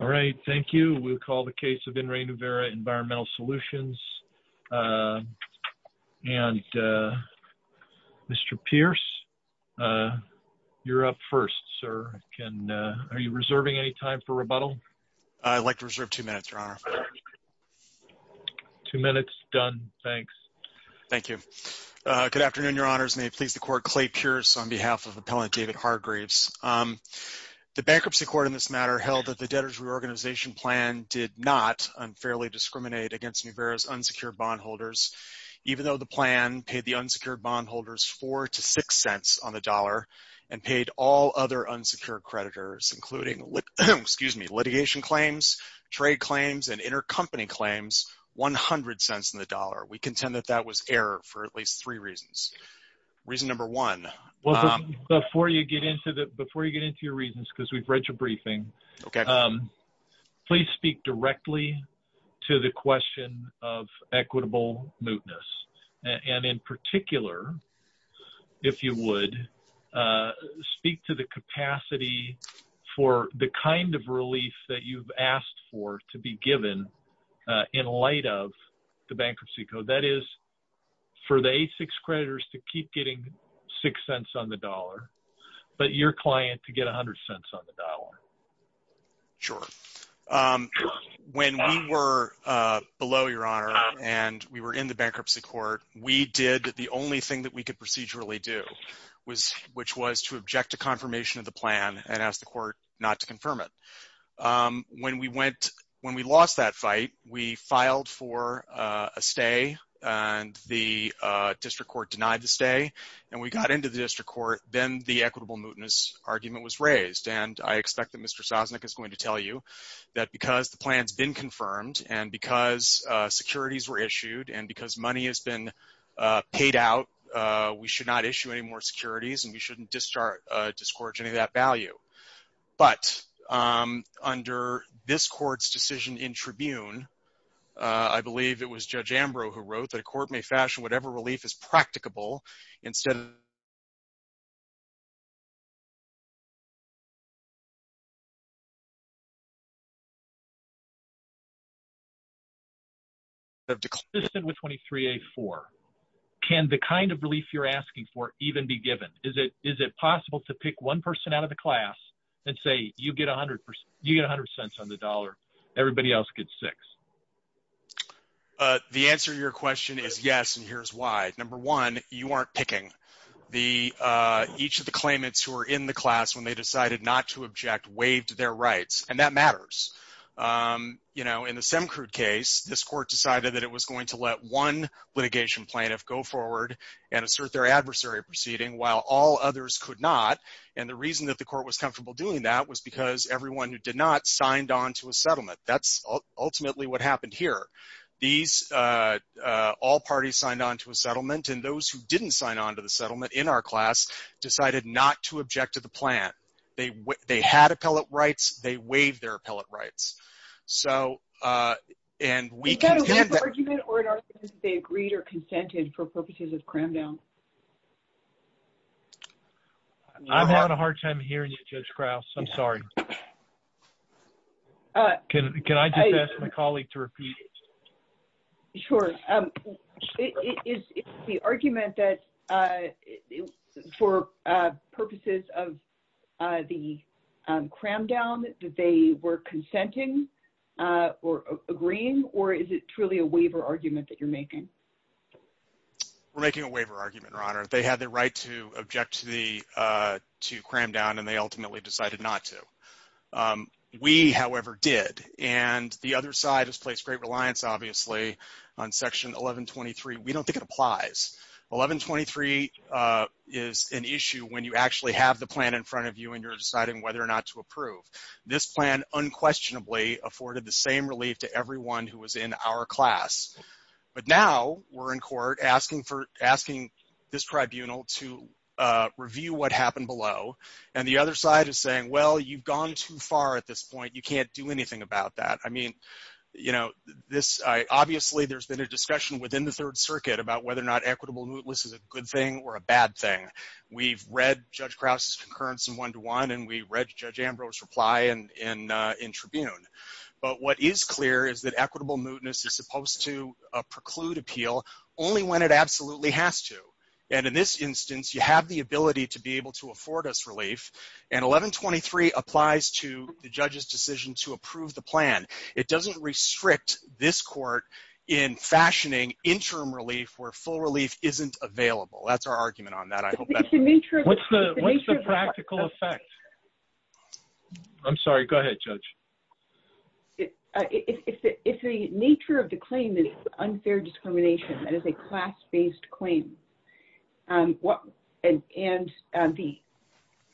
All right. Thank you. We'll call the case of In Re Nuverra Environmental Solutions. And Mr. Pierce, you're up first, sir. Are you reserving any time for rebuttal? I'd like to reserve two minutes, Your Honor. Two minutes. Done. Thanks. Thank you. Good afternoon, Your Honors. May it please the Court, Clay Pierce, on behalf of Appellant David Hargraves. The bankruptcy court in this matter held that debtors reorganization plan did not unfairly discriminate against Nuverra's unsecured bond holders, even though the plan paid the unsecured bond holders four to six cents on the dollar and paid all other unsecured creditors, including litigation claims, trade claims, and intercompany claims, 100 cents on the dollar. We contend that that was error for at least three reasons. Reason number one. Well, before you get into your reasons, because we've read your please speak directly to the question of equitable mootness. And in particular, if you would, speak to the capacity for the kind of relief that you've asked for to be given in light of the bankruptcy code. That is, for the A6 creditors to keep getting six cents on the dollar, but your client to get 100 cents on the dollar. Sure. When we were below, Your Honor, and we were in the bankruptcy court, we did the only thing that we could procedurally do, which was to object to confirmation of the plan and ask the court not to confirm it. When we lost that fight, we filed for a stay, and the district court denied the stay. And we got into the district court, then the equitable mootness argument was raised. I expect that Mr. Sosnick is going to tell you that because the plan's been confirmed, and because securities were issued, and because money has been paid out, we should not issue any more securities, and we shouldn't discourage any of that value. But under this court's decision in Tribune, I believe it was Judge Ambrose who wrote that a court may fashion whatever practicable instead of declaring it consistent with 23A4. Can the kind of relief you're asking for even be given? Is it possible to pick one person out of the class and say, you get 100 cents on the dollar, everybody else gets six? The answer to your question is yes, and here's why. Number one, you aren't picking. Each of the claimants who are in the class when they decided not to object waived their rights, and that matters. In the Semkrude case, this court decided that it was going to let one litigation plaintiff go forward and assert their adversary proceeding while all others could not, and the reason that the court was comfortable doing that was because everyone who did not signed on to a settlement. That's ultimately what happened here. These all parties signed on to a settlement, and those who didn't sign on to the settlement in our class decided not to object to the plan. They had appellate rights, they waived their appellate rights. So, and we can- Is that a waived argument, or in our case, they agreed or consented for purposes of Cramdown? I'm having a hard time hearing you, Judge Krause. I'm sorry. Can I just ask my colleague to repeat? Sure. Is the argument that for purposes of the Cramdown that they were consenting or agreeing, or is it truly a waiver argument that you're making? We're making a waiver argument, Your Honor. They had the right to object to Cramdown, and they ultimately decided not to. We, however, did, and the other side has placed great reliance, obviously, on Section 1123. We don't think it applies. 1123 is an issue when you actually have the plan in front of you, and you're deciding whether or not to approve. This plan unquestionably afforded the same relief to everyone who was in our class, but now we're in court asking for, the other side is saying, well, you've gone too far at this point. You can't do anything about that. Obviously, there's been a discussion within the Third Circuit about whether or not equitable mootness is a good thing or a bad thing. We've read Judge Krause's concurrence in one-to-one, and we read Judge Ambrose's reply in Tribune, but what is clear is that equitable mootness is supposed to preclude appeal only when it absolutely has to, and in this instance, you have the ability to be able to afford us relief, and 1123 applies to the judge's decision to approve the plan. It doesn't restrict this court in fashioning interim relief where full relief isn't available. That's our argument on that. What's the practical effect? I'm sorry. Go ahead, Judge. If the nature of the claim is unfair discrimination, that is a class-based claim, and the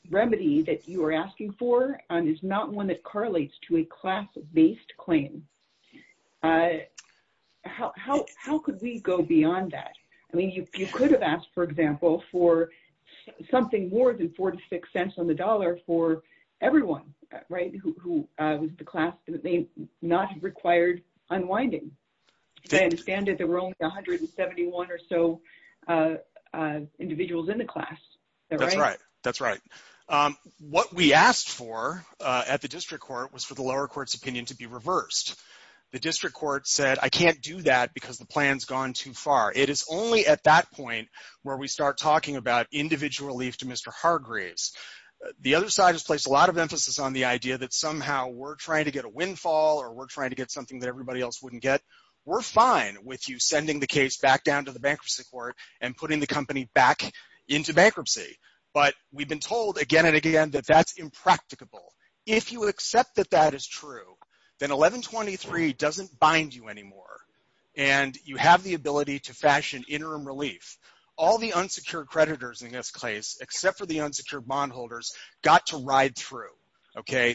remedy that you are asking for is not one that correlates to a class-based claim, how could we go beyond that? You could have asked, for example, for something more than four to six cents on the dollar for everyone who was in the class that not required unwinding. I understand that there were only 171 or so individuals in the class. That's right. That's right. What we asked for at the district court was for the lower court's opinion to be reversed. The district court said, I can't do that because the plan's gone too far. It is only at that point where we start talking about individual relief to Mr. Hargreaves. The other side has placed a lot of emphasis on the idea that somehow we're trying to get a windfall or we're trying to get something that everybody else wouldn't get. We're fine with you sending the case back down to the bankruptcy court and putting the company back into bankruptcy, but we've been told again and again that that's impracticable. If you accept that that is true, then 1123 doesn't bind you anymore and you have the ability to fashion interim relief. All the unsecured creditors in this case, except for the unsecured bond got to ride through.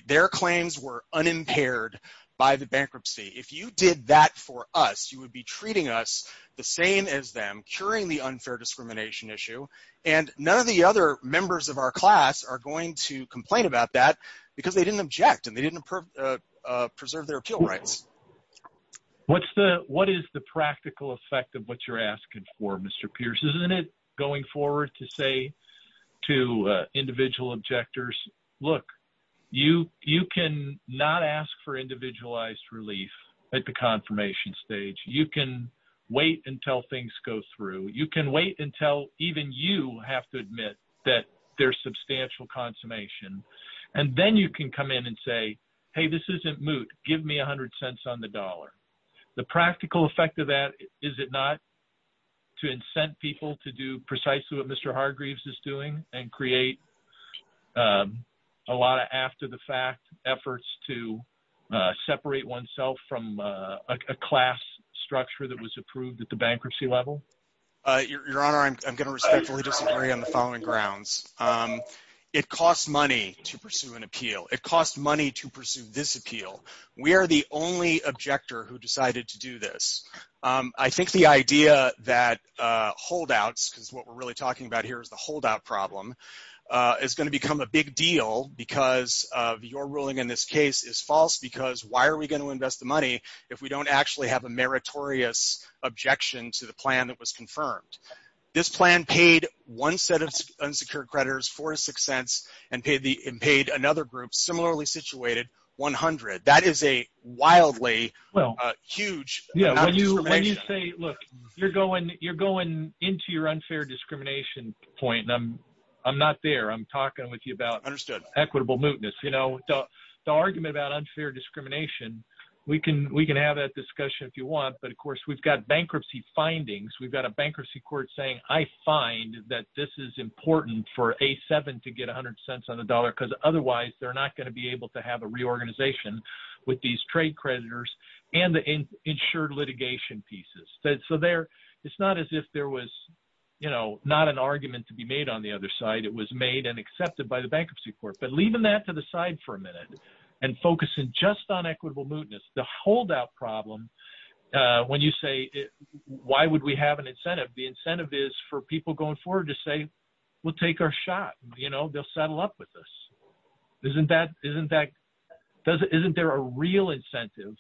Their claims were unimpaired by the bankruptcy. If you did that for us, you would be treating us the same as them, curing the unfair discrimination issue. None of the other members of our class are going to complain about that because they didn't object and they didn't preserve their appeal rights. What is the practical effect of what you're asking for, isn't it, going forward to say to individual objectors, look, you can not ask for individualized relief at the confirmation stage. You can wait until things go through. You can wait until even you have to admit that there's substantial consummation, and then you can come in and say, hey, this isn't moot. Give me 100 cents on the dollar. The practical effect of that, is it not to incent people to do precisely what Mr Hargreaves is doing and create a lot of after the fact efforts to separate oneself from a class structure that was approved at the bankruptcy level? Your Honor, I'm going to respectfully disagree on the following grounds. It costs money to pursue an appeal. It costs money to pursue this appeal. We are the only objector who decided to do this. I think the idea that holdouts, because what we're really talking about here is the holdout problem, is going to become a big deal because of your ruling in this case is false because why are we going to invest the money if we don't actually have a meritorious objection to the plan that was confirmed? This plan paid one set of unsecured Well, when you say, look, you're going into your unfair discrimination point, and I'm not there. I'm talking with you about equitable mootness. The argument about unfair discrimination, we can have that discussion if you want, but of course, we've got bankruptcy findings. We've got a bankruptcy court saying, I find that this is important for A7 to get 100 cents on the dollar because otherwise they're not going to be able to have a reorganization with these trade creditors and the insured litigation pieces. It's not as if there was not an argument to be made on the other side. It was made and accepted by the bankruptcy court, but leaving that to the side for a minute and focusing just on equitable mootness, the holdout problem, when you say, why would we have an incentive? The incentive is for people going forward to say, we'll take our shot. They'll settle up with us. Isn't there a real incentive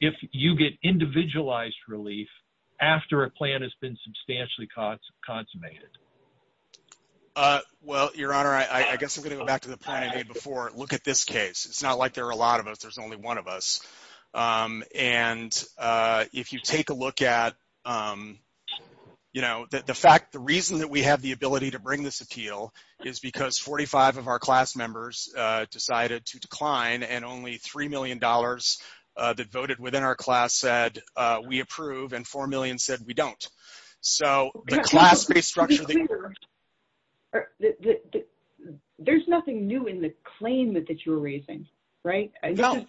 if you get individualized relief after a plan has been substantially consummated? Well, Your Honor, I guess I'm going to go back to the point I made before. Look at this case. It's not like there are a lot of us. There's only one of us. If you take a look at this, the reason that we have the ability to bring this appeal is because 45 of our class members decided to decline, and only $3 million that voted within our class said, we approve, and 4 million said, we don't. So the class-based structure- There's nothing new in the claim that you're raising, right? No.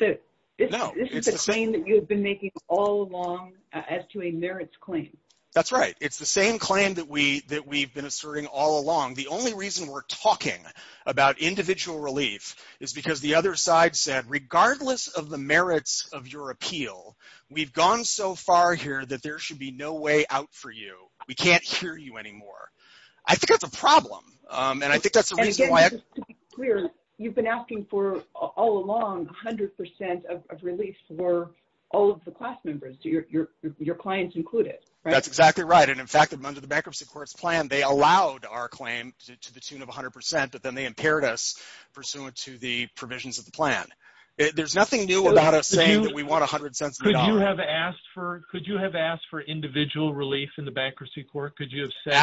No. This is the claim that you've been making all along as to a merits claim. That's right. It's the same claim that we've been asserting all along. The only reason we're talking about individual relief is because the other side said, regardless of the merits of your appeal, we've gone so far here that there should be no way out for you. We can't hear you anymore. I think that's a problem, and I think that's the reason why- To be clear, you've been asking for, all along, 100% of relief for all of the class members, your clients included, right? That's exactly right, and in fact, under the Bankruptcy Court's plan, they allowed our claim to the tune of 100%, but then they impaired us pursuant to the provisions of the plan. There's nothing new about us saying that we want 100 cents a dollar- Could you have asked for individual relief in the Bankruptcy Court? Could you have said-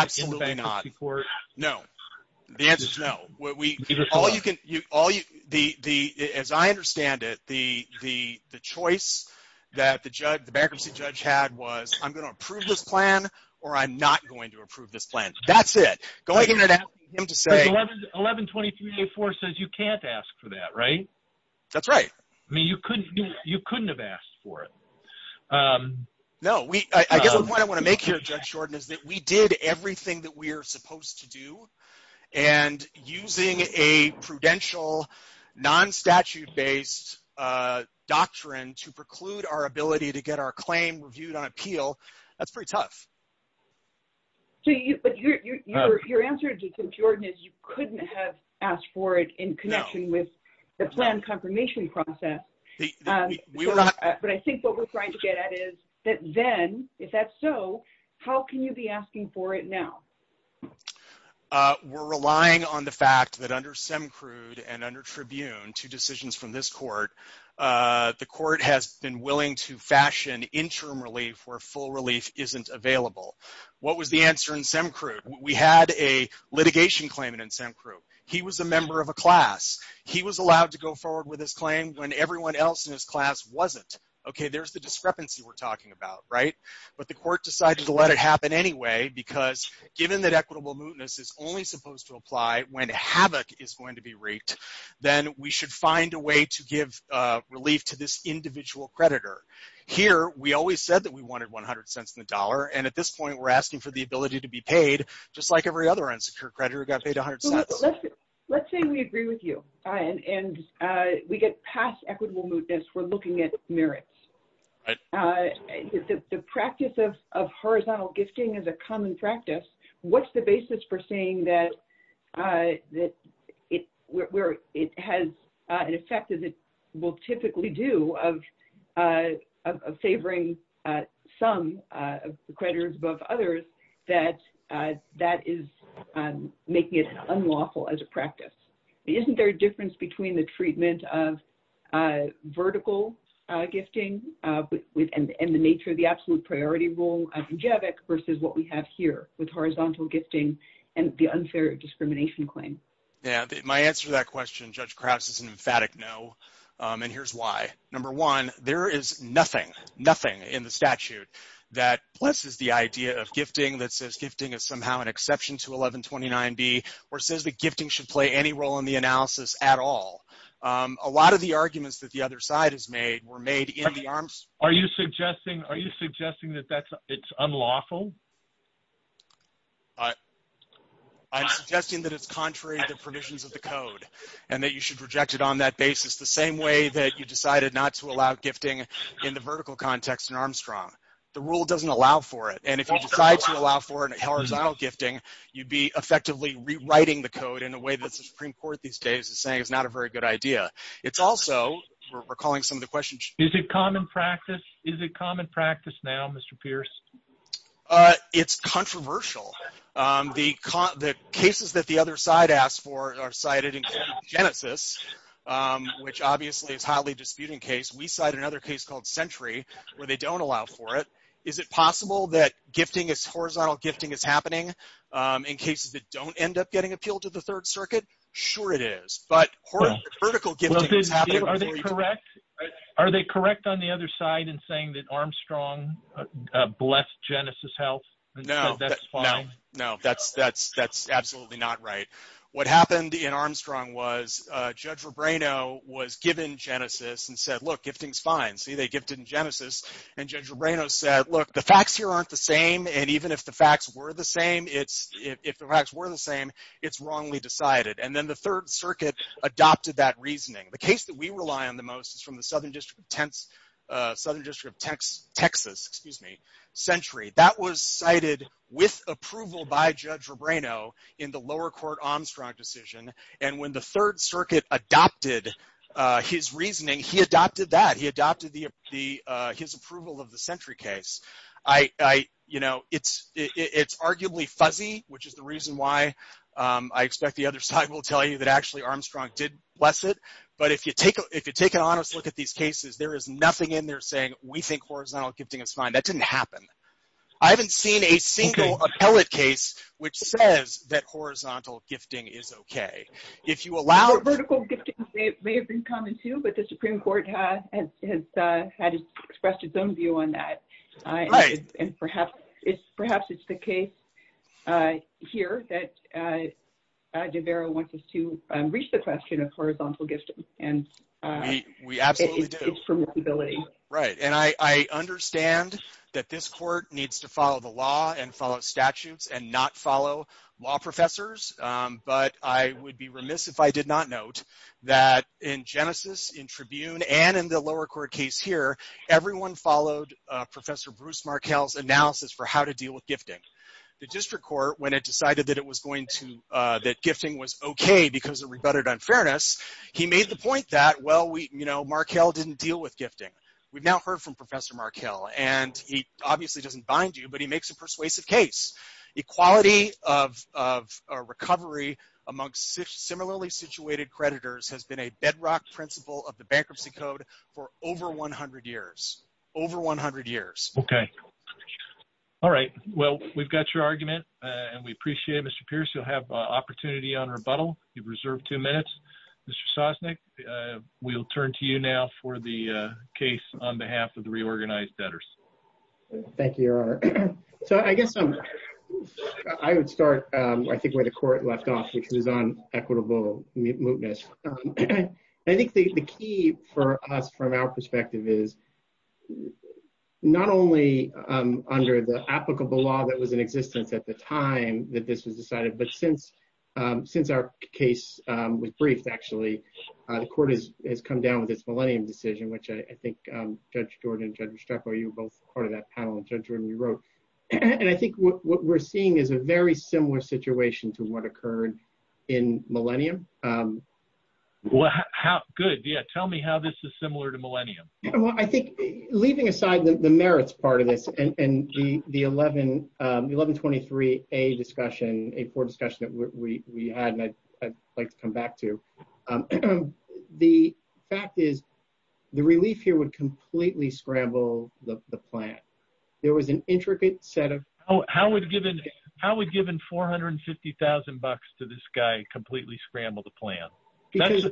All you can... As I understand it, the choice that the bankruptcy judge had was, I'm going to approve this plan or I'm not going to approve this plan. That's it. Go ahead and ask him to say- 1123A4 says you can't ask for that, right? That's right. I mean, you couldn't have asked for it. No. I guess the point I want to make here, Judge Jordan, is that we did everything that we're supposed to do, and using a prudential, non-statute-based doctrine to preclude our ability to get our claim reviewed on appeal, that's pretty tough. But your answer to Judge Jordan is you couldn't have asked for it in connection with the plan confirmation process, but I think what we're trying to get at is that then, if that's so, how can you be asking for it now? We're relying on the fact that under Semcrude and under Tribune, two decisions from this court, the court has been willing to fashion interim relief where full relief isn't available. What was the answer in Semcrude? We had a litigation claimant in Semcrude. He was a member of a class. He was allowed to go forward with his claim when everyone else in his class wasn't. Okay, there's the discrepancy we're talking about, but the court decided to let it happen anyway because, given that equitable mootness is only supposed to apply when havoc is going to be wreaked, then we should find a way to give relief to this individual creditor. Here, we always said that we wanted 100 cents on the dollar, and at this point, we're asking for the ability to be paid, just like every other unsecured creditor who got paid 100 cents. Let's say we agree with you, and we get past equitable mootness. We're looking at merits. The practice of horizontal gifting is a common practice. What's the basis for saying that it has an effect, as it will typically do, of favoring some creditors above others, that that is making it unlawful as a practice? Isn't there a difference between the treatment of vertical gifting and the nature of the absolute priority rule adjective versus what we have here with horizontal gifting and the unfair discrimination claim? Yeah, my answer to that question, Judge Krauss, is an emphatic no, and here's why. Number one, there is nothing, nothing in the statute that blesses the idea of gifting that says gifting is somehow an exception to 1129b or says that gifting should play any role in the analysis at all. A lot of the arguments that the other side has made were made in the arms. Are you suggesting, are you suggesting that that's, it's unlawful? I, I'm suggesting that it's contrary to the provisions of the code, and that you should reject it on that basis, the same way that you decided not to allow gifting in the vertical context in Armstrong. The rule doesn't allow for it, and if you decide to allow for a horizontal gifting, you'd be effectively rewriting the code in a way that the Supreme Court these days is saying it's not a very good idea. It's also, we're calling some of the questions. Is it common practice, is it common practice now, Mr. Pierce? Uh, it's controversial. Um, the con, the cases that the other side asked for are cited in Genesis, um, which obviously is highly disputing case. We cite another case called Century where they don't allow for it. Is it possible that horizontal gifting is happening, um, in cases that don't end up getting appealed to the Third Circuit? Sure it is, but vertical gifting is happening. Are they correct, are they correct on the other side in saying that Armstrong, uh, blessed Genesis health and said that's fine? No, no, that's, that's, that's absolutely not right. What happened in Armstrong was, uh, Judge Rebrano was given Genesis and said, look, gifting's fine. See, they gifted in Genesis, and Judge Rebrano said, look, the facts here aren't the same. And even if the facts were the same, it's, if the facts were the same, it's wrongly decided. And then the Third Circuit adopted that reasoning. The case that we rely on the most is from the Southern District of Tents, uh, Southern District of Tex, Texas, excuse me, Century. That was cited with approval by Judge Rebrano in the lower court Armstrong decision. And when the Third Circuit adopted, uh, his reasoning, he adopted that. He adopted the, the, uh, his approval of the Century case. I, I, you know, it's, it's arguably fuzzy, which is the reason why, um, I expect the other side will tell you that actually Armstrong did bless it. But if you take, if you take an honest look at these cases, there is nothing in there saying we think horizontal gifting is fine. That didn't happen. I haven't seen a single appellate case which says that horizontal gifting is okay. If you allow... Vertical gifting may have been common too, but the Supreme Court has, has, uh, had expressed its own view on that. And perhaps it's, perhaps it's the case, uh, here that, uh, uh, DeVera wants us to, um, reach the question of horizontal gifting. And, uh, we absolutely do. Right. And I, I understand that this court needs to follow the law and follow statutes and not follow law professors. Um, but I would be remiss if I did not note that in Genesis, in Tribune, and in the lower court case here, everyone followed, uh, Professor Bruce Markell's analysis for how to deal with gifting. The district court, when it decided that it was going to, uh, that gifting was okay because of rebutted unfairness, he made the point that, well, we, you know, Markell didn't deal with gifting. We've now heard from Professor Markell, and he obviously doesn't bind you, but he makes a persuasive case. Equality of, of, uh, recovery amongst similarly situated creditors has been a bedrock principle of the bankruptcy code for over 100 years, over 100 years. Okay. All right. Well, we've got your argument, uh, and we appreciate it. Mr. Pierce, you'll have an opportunity on rebuttal. You've reserved two minutes. Mr. Sosnick, we'll turn to you now for the, uh, case on behalf of the reorganized debtors. Thank you, Your Honor. So, I guess, um, I would start, um, I think, where the court left off because it was on equitable mootness. I think the, the key for us from our perspective is not only, um, under the applicable law that was in existence at the time that this was decided, but since, um, since our case, um, was briefed, actually, uh, the court has, has come down with this Millennium decision, which I, I think, um, Judge Jordan and Judge Restrepo, you were both part of that panel, and Judge Remy wrote, and I think what, what we're seeing is a very similar situation to what occurred in Millennium. Um. Well, how, how, good. Yeah. Tell me how this is similar to Millennium. Well, I think, leaving aside the, the merits part of this and, and the, the 11, um, 1123A discussion, a poor discussion that we, we, we had, and I'd, I'd like to come back to, um, the fact is the relief here would completely scramble the, the plan. There was an intricate set of. Oh, how would given, how would giving 450,000 bucks to this guy completely scramble the plan? Because.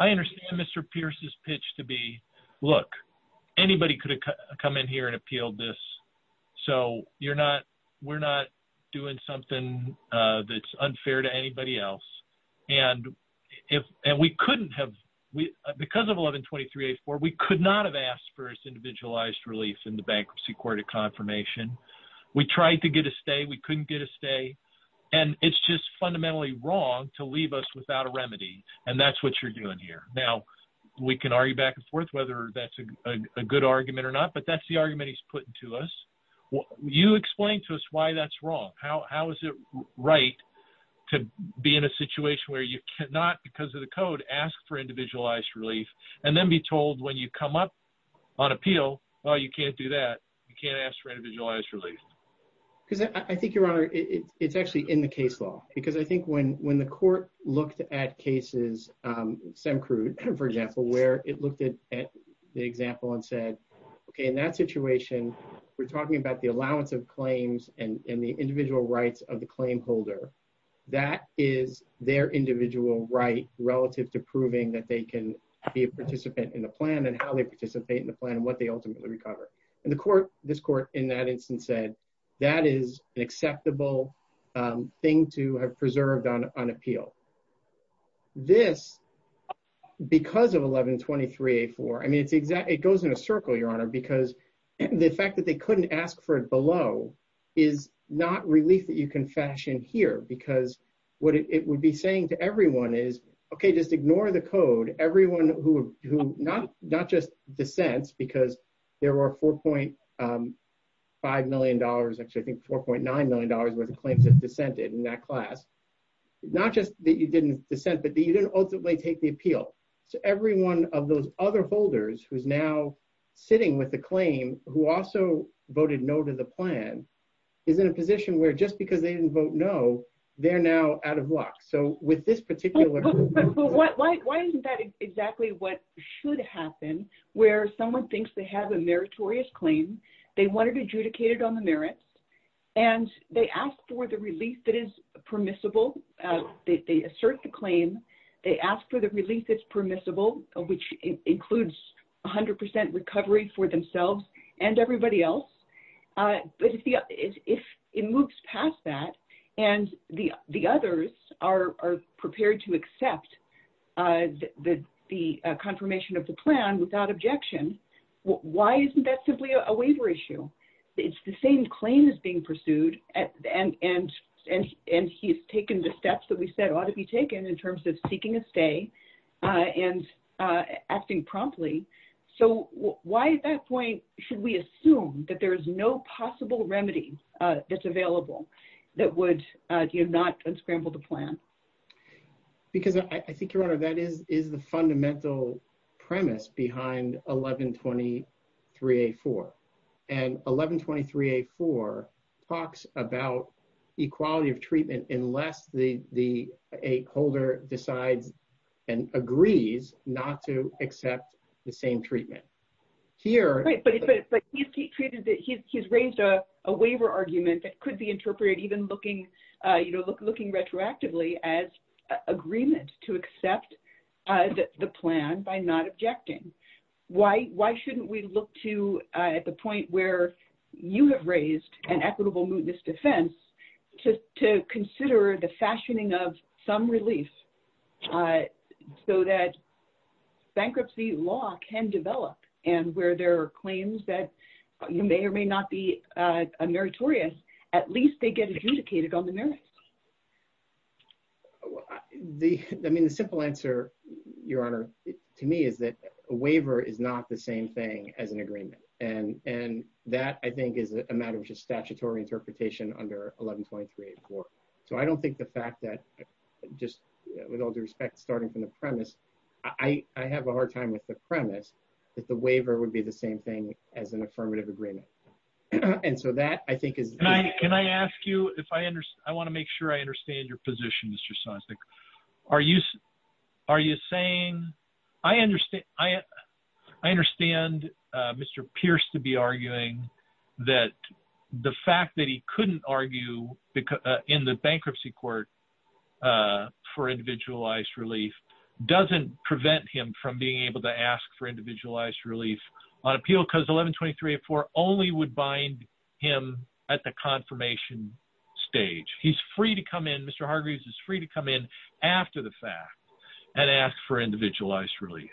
I understand Mr. Pierce's pitch to be, look, anybody could have come in here and appealed this, so you're not, we're not doing something, uh, that's unfair to if, and we couldn't have, we, because of 1123A4, we could not have asked for his individualized relief in the Bankruptcy Court of Confirmation. We tried to get a stay, we couldn't get a stay, and it's just fundamentally wrong to leave us without a remedy, and that's what you're doing here. Now, we can argue back and forth whether that's a, a good argument or not, but that's the argument he's putting to us. You explain to us why that's wrong. How, how is it right to be in a situation where you cannot, because of the code, ask for individualized relief, and then be told when you come up on appeal, oh, you can't do that, you can't ask for individualized relief? Because I, I think, Your Honor, it, it's actually in the case law, because I think when, when the court looked at cases, um, SEMCRUD, for example, where it looked at, at the example and said, okay, in that situation, we're talking about the allowance of claims and, and the individual rights of the claim holder. That is their individual right relative to proving that they can be a participant in the plan, and how they participate in the plan, and what they ultimately recover. And the court, this court, in that instance said, that is an acceptable, um, thing to have preserved on, on appeal. This, because of 1123A4, I mean, it's exact, it goes in a circle, Your Honor, because the fact that they couldn't ask for it below is not relief that you can fashion here, because what it would be saying to everyone is, okay, just ignore the code. Everyone who, who not, not just dissents, because there were 4.5 million dollars, actually, I think 4.9 million dollars worth of claims have dissented in that class. Not just that you didn't dissent, but that you didn't ultimately take the appeal. So every one of those other holders who's now sitting with the claim, who also voted no to the plan, is in a position where just because they didn't vote no, they're now out of luck. So with this particular, Why isn't that exactly what should happen, where someone thinks they have a meritorious claim, they want it adjudicated on the merits, and they ask for the relief that is permissible, they assert the claim, they ask for the relief that's permissible, which includes 100% recovery for themselves and everybody else. But if it moves past that, and the others are prepared to accept the confirmation of the plan without objection, why isn't that simply a waiver issue? It's the claim that's being pursued, and he's taken the steps that we said ought to be taken in terms of seeking a stay and acting promptly. So why at that point should we assume that there's no possible remedy that's available that would not unscramble the plan? Because I think, Your Honor, that is the fundamental premise behind 1123-A-4. And 1123-A-4 talks about equality of treatment unless a holder decides and agrees not to accept the same treatment. Here- Right, but he's raised a waiver argument that could be interpreted even looking retroactively as agreement to accept the plan by not objecting. Why shouldn't we look to, at the point where you have raised an equitable mootness defense, to consider the fashioning of some relief so that bankruptcy law can develop, and where there are claims that may or may not be meritorious, at least they get adjudicated on the merits? I mean, the simple answer, Your Honor, to me is that a waiver is not the same thing as an agreement. And that, I think, is a matter of just statutory interpretation under 1123-A-4. So I don't think the fact that, just with all due respect, starting from the premise, I have a hard time with the premise that the waiver would be the same thing as an affirmative agreement. And so that, I think, is- Can I ask you, I want to make sure I understand your position, Mr. Sosnick. I understand Mr. Pierce to be arguing that the fact that he couldn't argue in the bankruptcy court for individualized relief doesn't prevent him from being able to ask for individualized relief on appeal, because 1123-A-4 only would bind him at the confirmation stage. He's free to come in, Mr. Hargreaves is free to come in after the fact and ask for individualized relief.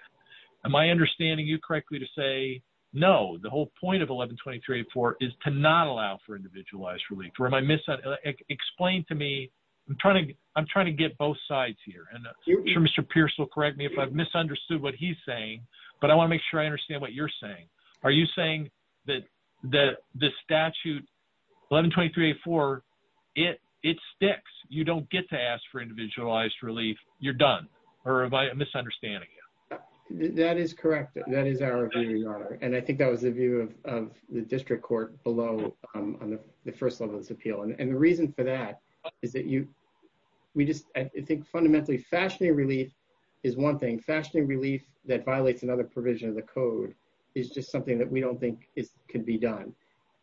Am I understanding you correctly to say, no, the whole point of 1123-A-4 is to not allow for individualized relief? Or am I- explain to me, I'm trying to get both sides here. And I'm sure Mr. Pierce will correct me if I've misunderstood what he's saying, but I want to make sure I understand what you're saying. Are you saying that the statute, 1123-A-4, it sticks. You don't get to ask for individualized relief. You're done. Or am I misunderstanding you? That is correct. That is our view, Your Honor. And I think that was the view of the district court below on the first level of this appeal. And the reason for that is that you, we just, I think fundamentally fashioning relief is one thing. Fashioning relief that violates another provision of the code is just something that we don't think can be done.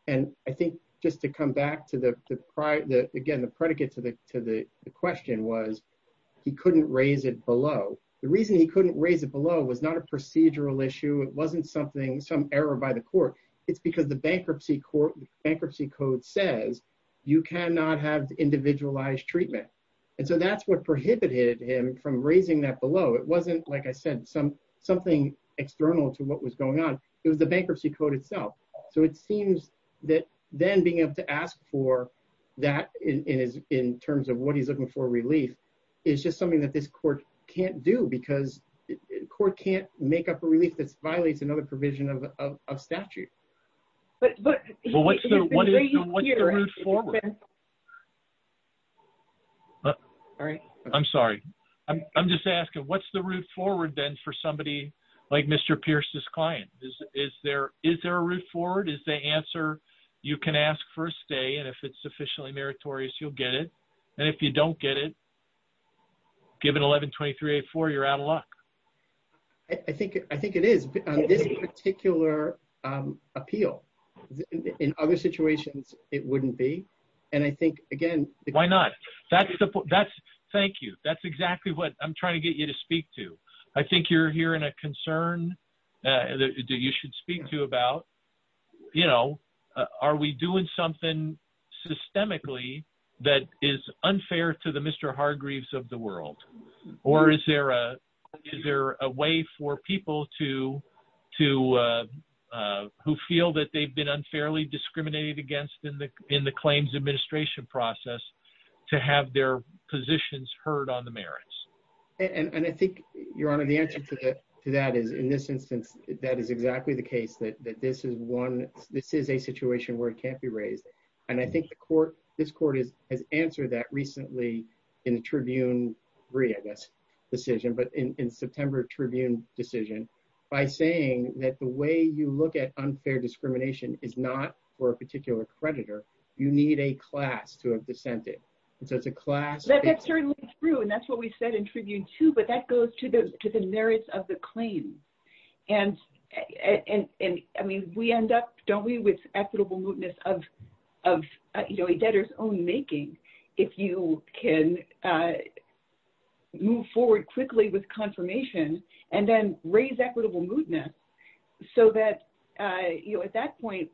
And I think just to come back to the prior, again, the predicate to the to the question was, he couldn't raise it below. The reason he couldn't raise it below was not a procedural issue. It wasn't something, some error by the court. It's because the bankruptcy court, bankruptcy code says you cannot have individualized treatment. And so that's what prohibited him from raising that below. It wasn't, like I said, something external to what was going on. It was the bankruptcy code itself. So it seems that then being able to ask for that in terms of what he's looking for relief is just something that this court can't do because the court can't make up a relief that violates another provision of statute. But what's the route forward? I'm sorry. I'm just asking, what's the route forward then for somebody like Mr. Pierce's client? Is there a route forward? Is the answer you can ask for a stay and if it's sufficiently meritorious, you'll get it. And if you don't get it, given 11-23-84, you're out of luck. I think it is, on this particular appeal. In other situations, it wouldn't be. And I think, again... Why not? Thank you. That's exactly what I'm trying to get you to speak to. I think you're hearing a concern that you should speak to about, are we doing something systemically that is unfair to the Mr. Hargreaves of the world? Or is there a way for people who feel that they've been unfairly discriminated against in the claims administration process to have their positions heard on the merits? And I think, Your Honor, the answer to that is, in this instance, that is exactly the case, that this is a situation where it can't be raised. And I think this court has answered that recently in the Tribune 3, I guess, decision, but in September Tribune decision by saying that the way you look at unfair discrimination is not for a particular creditor. You need a class to have dissented. And so it's a class... That's certainly true. And that's what we said in Tribune 2, but that goes to the merits of the debtor's own making, if you can move forward quickly with confirmation and then raise equitable moodness so that at that point,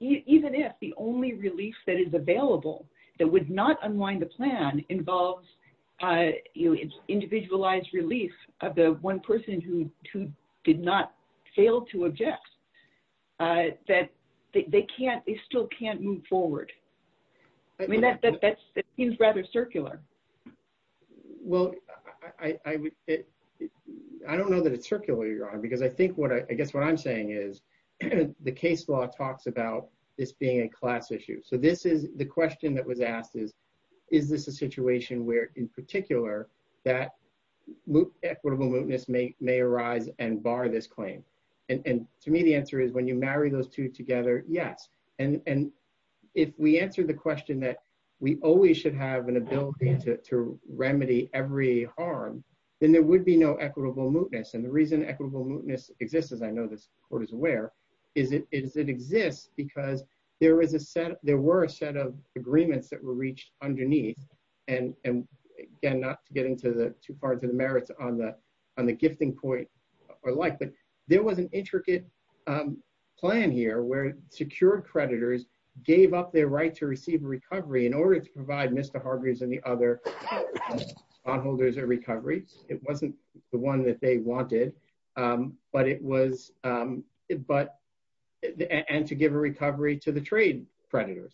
even if the only relief that is available that would not unwind the plan involves individualized relief of the one person who did not fail to object, that they still can't move forward. I mean, that seems rather circular. Well, I don't know that it's circular, Your Honor, because I guess what I'm saying is the case law talks about this being a class issue. So the question that was asked is, is this a situation where, in particular, that equitable moodness may arise and bar this claim? And to me, the answer is when you marry those two together, yes. And if we answered the question that we always should have an ability to remedy every harm, then there would be no equitable moodness. And the reason equitable moodness exists, as I know this Court is aware, is it exists because there were a set of agreements that were reached underneath. And again, not to get into too far into the merits on the gifting point or like, but there was an intricate plan here where secured creditors gave up their right to receive recovery in order to provide Mr. Hargreeves and the other bondholders a recovery. It wasn't the one that they wanted, and to give a recovery to the trade creditors.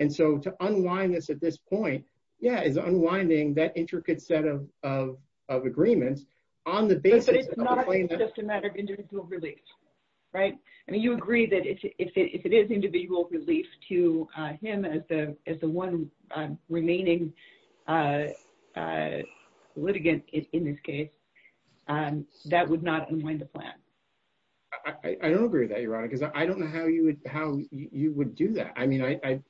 And so to unwind this at this point, yeah, is unwinding that intricate set of agreements on the basis of the claim that- But it's not just a matter of individual relief, right? I mean, you agree that if it is individual relief to him as the one remaining litigant in this case, that would not unwind the plan. I don't agree with that, Your Honor, because I don't know how you would do that. I mean, and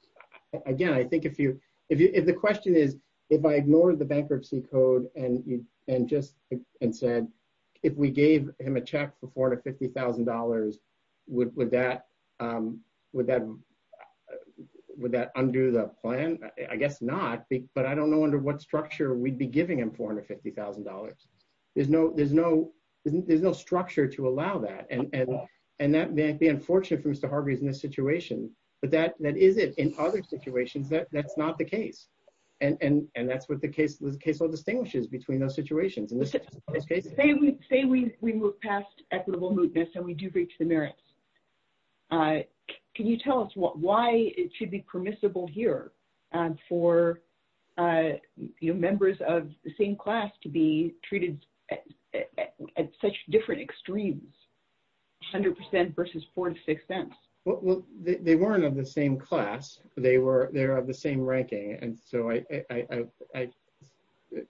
just said, if we gave him a check for $450,000, would that undo the plan? I guess not, but I don't know under what structure we'd be giving him $450,000. There's no structure to allow that. And that may be unfortunate for Mr. Hargreeves in this situation, but that is it. In other situations, that's not the case. And that's what the case law distinguishes between those situations. Say we move past equitable mootness and we do reach the merits. Can you tell us why it should be permissible here for members of the same class to be treated at such extremes, 100% versus 4 to 6 cents? Well, they weren't of the same class. They're of the same ranking. And so I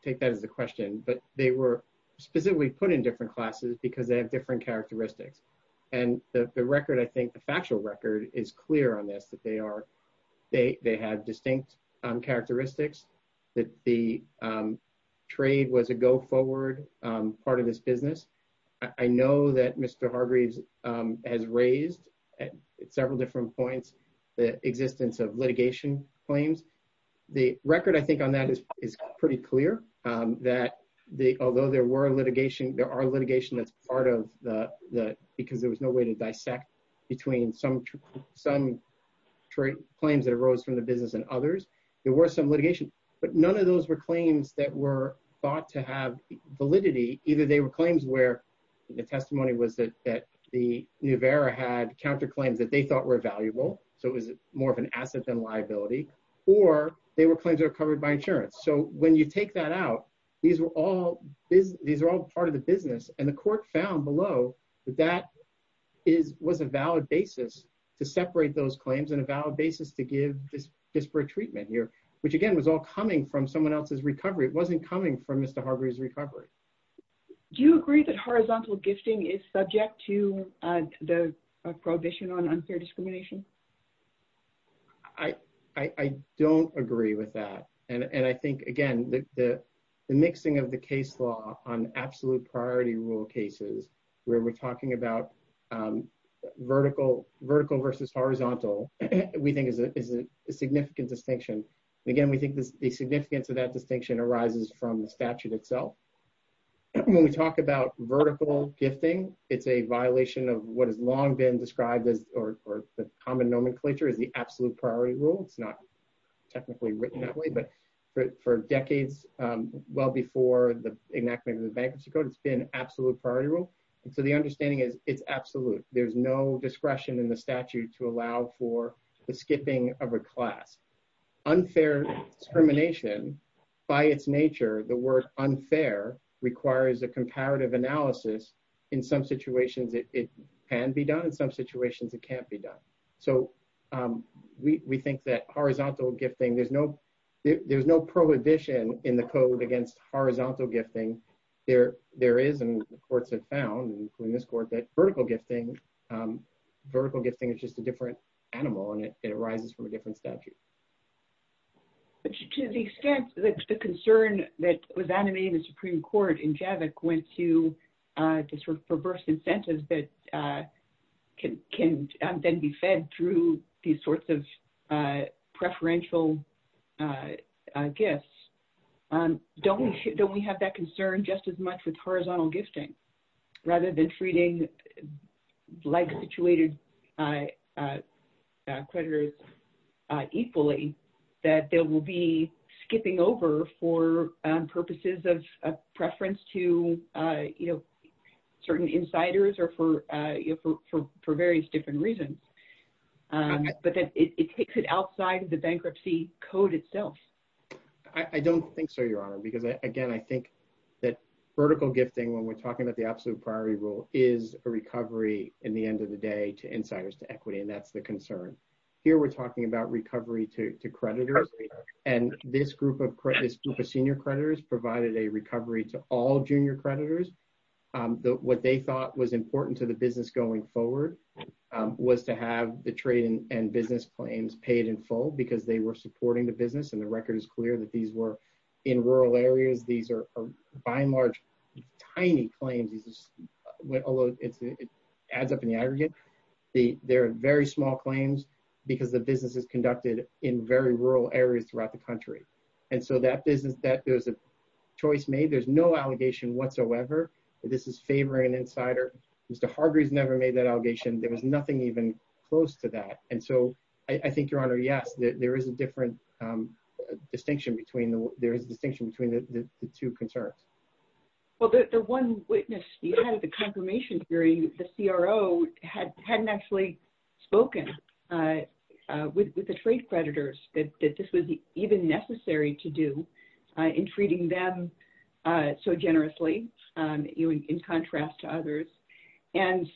take that as a question, but they were specifically put in different classes because they have different characteristics. And the record, I think the factual record is clear on this, that they had distinct characteristics, that the trade was a go business. I know that Mr. Hargreeves has raised at several different points, the existence of litigation claims. The record I think on that is pretty clear that although there were litigation, there are litigation that's part of the, because there was no way to dissect between some trade claims that arose from the business and others. There were some litigation, but none of those were claims that were thought to have validity. Either they were claims where the testimony was that the New Era had counterclaims that they thought were valuable. So it was more of an asset than liability, or they were claims that are covered by insurance. So when you take that out, these were all, these are all part of the business. And the court found below that that was a valid basis to separate those claims and a valid basis to give this disparate treatment here, which again was all coming from someone else's recovery. It wasn't coming from Mr. Hargreeves' recovery. Do you agree that horizontal gifting is subject to the prohibition on unfair discrimination? I don't agree with that. And I think again, the mixing of the case law on absolute priority rule cases, where we're talking about vertical versus horizontal, we think is a significant distinction. And again, we think the significance of that distinction arises from the statute itself. When we talk about vertical gifting, it's a violation of what has long been described as, or the common nomenclature is the absolute priority rule. It's not technically written that way, but for decades, well before the enactment of the bankruptcy code, it's been absolute priority rule. And so the understanding is it's absolute. There's no discretion in the class. Unfair discrimination by its nature, the word unfair requires a comparative analysis. In some situations, it can be done. In some situations, it can't be done. So we think that horizontal gifting, there's no prohibition in the code against horizontal gifting. There is, and the courts have found, including this court, that vertical gifting is just a different statute. But to the extent that the concern that was animated in the Supreme Court in Javik went to this sort of perverse incentive that can then be fed through these sorts of preferential gifts, don't we have that concern just as much with horizontal gifting, rather than treating like-situated creditors equally, that there will be skipping over for purposes of preference to certain insiders or for various different reasons? But that it takes it outside of the bankruptcy code itself. I don't think so, Your Honor, because again, I think that vertical gifting, when we're talking about the absolute priority rule, is a recovery in the end of the day to insiders to equity, and that's the concern. Here we're talking about recovery to creditors, and this group of senior creditors provided a recovery to all junior creditors. What they thought was important to the business going forward was to have the trade and business claims paid in full, because they were supporting the business, and the record is clear that these were in rural areas. These are by and large tiny claims, although it adds up in the aggregate. They're very small claims because the business is conducted in very rural areas throughout the country. And so that business, there was a choice made. There's no allegation whatsoever that this is favoring an insider. Mr. Hargreeve never made that allegation. There was nothing even close to that. And so I think, Your Honor, yes, there is a distinction between the two concerns. Well, the one witness you had at the confirmation hearing, the CRO, hadn't actually spoken with the trade creditors that this was even necessary to do in treating them so generously, you know, in contrast to others. And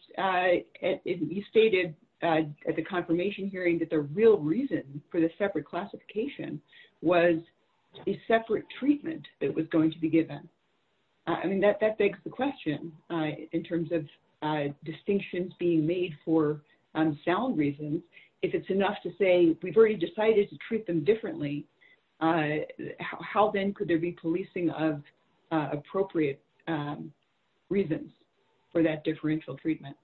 you stated at the confirmation hearing that the real reason for the separate classification was a separate treatment that was going to be given. I mean, that begs the question in terms of distinctions being made for sound reasons. If it's enough to say we've already decided to treat them differently, how then could there be policing of appropriate reasons for that differential treatment?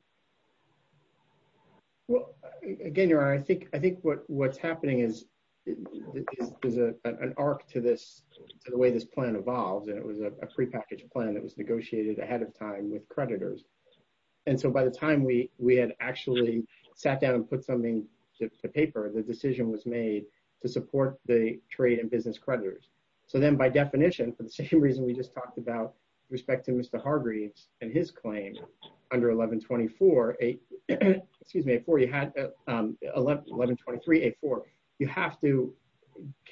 Well, again, Your Honor, I think what's happening is an arc to this, to the way this plan evolved. And it was a prepackaged plan that was negotiated ahead of time with creditors. And so by the time we had actually sat down and put something to paper, the decision was made to support the trade and business creditors. So then by definition, for the same reason we just talked about with respect to Mr. Hargreaves and his claim under 1123.84, you have to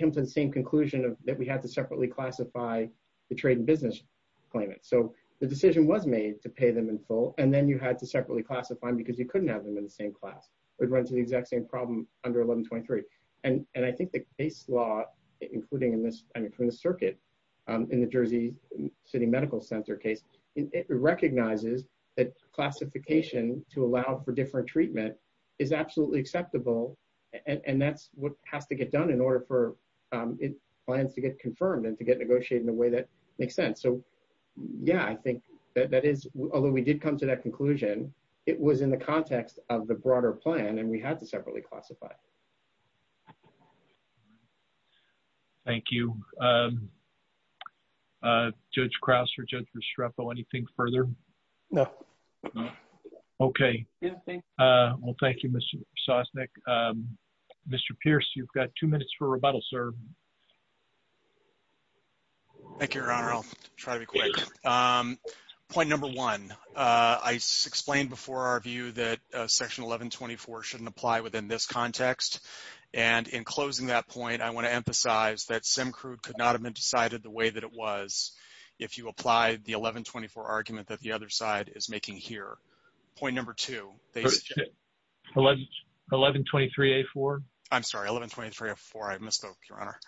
come to the same conclusion that we had to separately classify the trade and business claimants. So the decision was made to pay them in full, and then you had to separately classify them because you couldn't have them in the same class. It would run exact same problem under 1123. And I think the case law, including in this circuit, in the Jersey City Medical Center case, it recognizes that classification to allow for different treatment is absolutely acceptable. And that's what has to get done in order for it plans to get confirmed and to get negotiated in a way that makes sense. So yeah, I think that is, although we did come to that conclusion, it was in the context of the broader plan, and we had to separately classify. Thank you. Judge Krause or Judge Restrepo, anything further? No. Okay. Well, thank you, Mr. Sosnick. Mr. Pierce, you've got two minutes for rebuttal, sir. Thank you, Your Honor. I'll try to be quick. Point number one, I explained before our view that Section 1124 shouldn't apply within this context. And in closing that point, I want to emphasize that Simcrude could not have been decided the way that it was if you applied the 1124 argument that the other side is making here. Point number two, 1123A4. I'm sorry, 1123A4. I misspoke, Your Honor.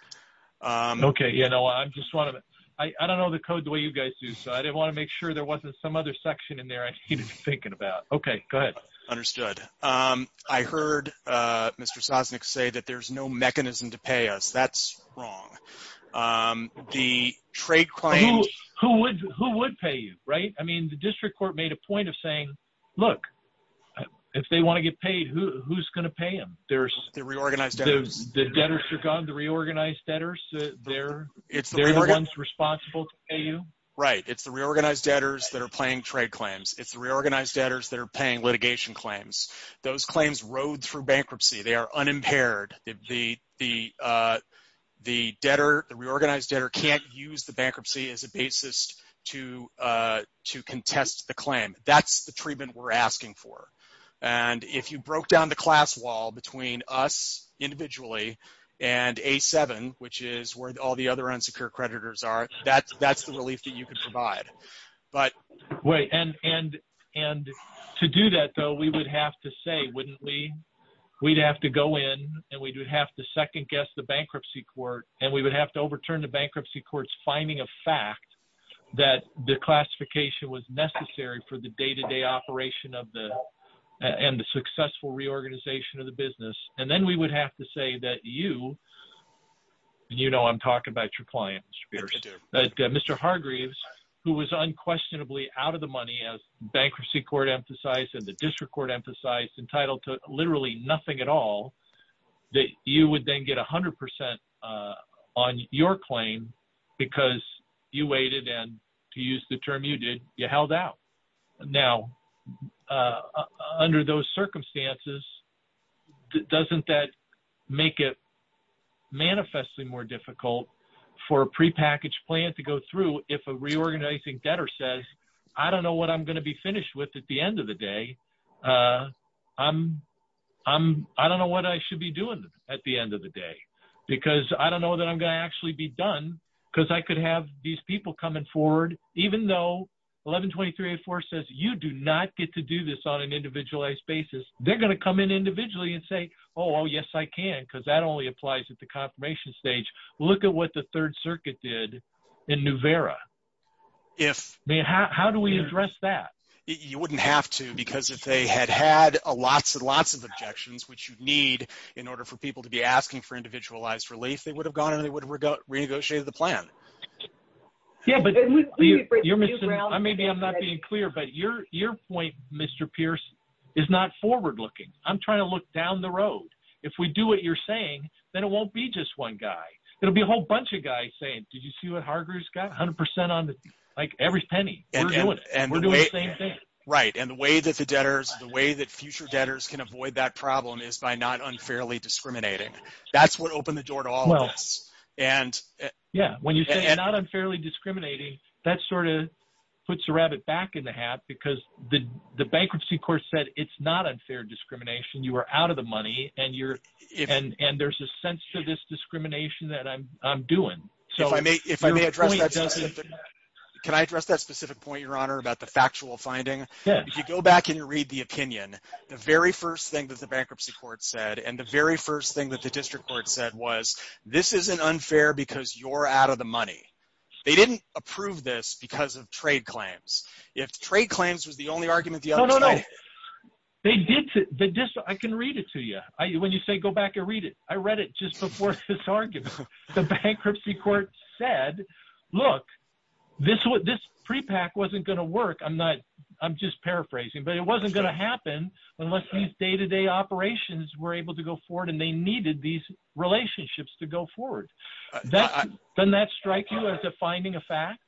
Okay. You know, I just want to, I don't know the code the way you guys do, so I didn't want to make sure there wasn't some other section in there I needed to be thinking about. Okay, go ahead. Understood. I heard Mr. Sosnick say that there's no mechanism to pay us. That's wrong. The trade claim... Who would pay you, right? I mean, the District Court made a point of saying, look, if they want to get paid, who's going to pay them? There's... The reorganized debtors. The debtors are gone? The reorganized debtors? They're the ones responsible to pay you? Right. It's the reorganized debtors that are paying trade claims. It's the reorganized debtors that are paying litigation claims. Those claims rode through bankruptcy. They are unimpaired. The debtor, the reorganized debtor can't use the bankruptcy as a basis to contest the claim. That's the treatment we're asking for. And if you broke down the class wall between us individually and A7, which is where all the other unsecure creditors are, that's the relief that you could provide. But... Wait, and to do that, though, we would have to say, wouldn't we? We'd have to go in and we'd have to second guess the bankruptcy court and we would have to overturn the bankruptcy court's finding of fact that the classification was necessary for the day-to-day operation of the... And the successful reorganization of the business. And then we would have to say that you... You know I'm talking about your client, Mr. Spears. Mr. Hargreaves, who was unquestionably out of the money, as bankruptcy court emphasized and the district court emphasized, entitled to because you waited and, to use the term you did, you held out. Now, under those circumstances, doesn't that make it manifestly more difficult for a prepackaged plan to go through if a reorganizing debtor says, I don't know what I'm going to be finished with at the end of the day. I'm... I don't know what I should be doing at the end of the day because I don't know that I'm going to actually be done because I could have these people coming forward, even though 1123-84 says you do not get to do this on an individualized basis. They're going to come in individually and say, oh yes, I can because that only applies at the confirmation stage. Look at what the Third Circuit did in Nuvera. If... How do we address that? You wouldn't have to because if they had had lots and lots of objections, which you need in order for people to be asking for individualized relief, they would have gone and they would have renegotiated the plan. Yeah, but you're missing... Maybe I'm not being clear, but your point, Mr. Pierce, is not forward-looking. I'm trying to look down the road. If we do what you're saying, then it won't be just one guy. It'll be a whole bunch of guys saying, did you see what Hargreaves got? 100% on the... Like every penny, we're doing it. We're doing the same thing. Right, and the way that the debtors... The way that future debtors can avoid that problem is by not unfairly discriminating. That's what opened the door to all of us and... Yeah, when you say not unfairly discriminating, that sort of puts a rabbit back in the hat because the bankruptcy court said, it's not unfair discrimination. You are out of the money and you're... And there's a sense to this discrimination that I'm doing. If I may address that specific... Can I address that specific point, Your Honor, about the factual finding? If you go back and you read the opinion, the very first thing that the bankruptcy court said, and the very first thing that the district court said was, this isn't unfair because you're out of the money. They didn't approve this because of trade claims. If trade claims was the only argument... No, no, no. They did... I can read it to you. When you say, go back and read it, I read it just before this argument. The bankruptcy court said, look, this prepack wasn't going to work. I'm just paraphrasing, but it wasn't going to happen unless these day-to-day operations were able to go forward and they needed these relationships to go forward. Doesn't that strike you as a finding of fact?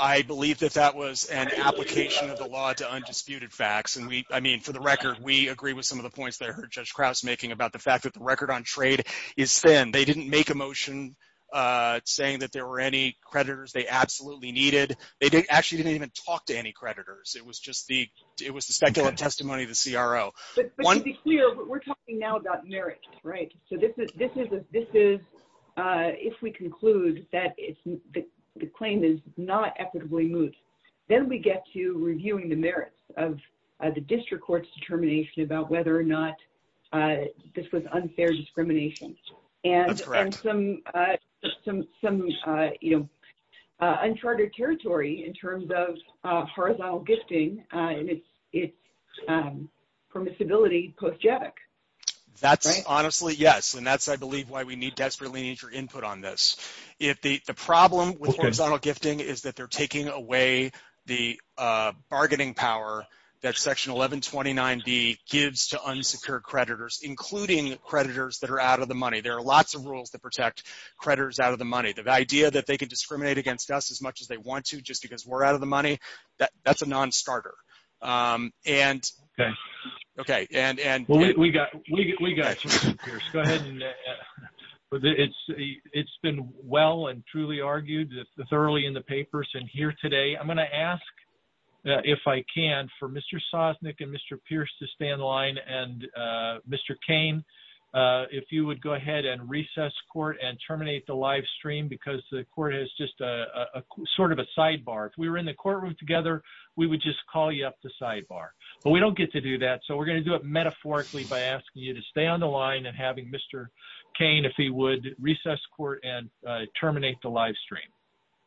I believe that that was an application of the law to undisputed facts. And I mean, for the record, we agree with some of the points that I heard Judge Krause making about the fact that the record on trade is thin. They didn't make a motion saying that there were any creditors they absolutely needed. They actually didn't even talk to any creditors. It was just the speculative testimony of the CRO. But to be clear, we're talking now about merits, right? So if we conclude that the claim is not equitably moot, then we get to reviewing the merits of the district court's determination about whether or not this was uncharted territory in terms of horizontal gifting and its permissibility post-JACC. That's honestly, yes. And that's, I believe, why we need desperately need your input on this. The problem with horizontal gifting is that they're taking away the bargaining power that Section 1129B gives to unsecured creditors, including creditors that are out of the money. There are lots of rules that protect creditors out of the money. The idea that they could as much as they want to, just because we're out of the money, that's a non-starter. It's been well and truly argued thoroughly in the papers and here today. I'm going to ask, if I can, for Mr. Sosnick and Mr. Pierce to stand the line and Mr. Cain, if you would go ahead and terminate the live stream because the court has just a sort of a sidebar. If we were in the courtroom together, we would just call you up the sidebar, but we don't get to do that. So we're going to do it metaphorically by asking you to stay on the line and having Mr. Cain, if he would, recess court and terminate the live stream.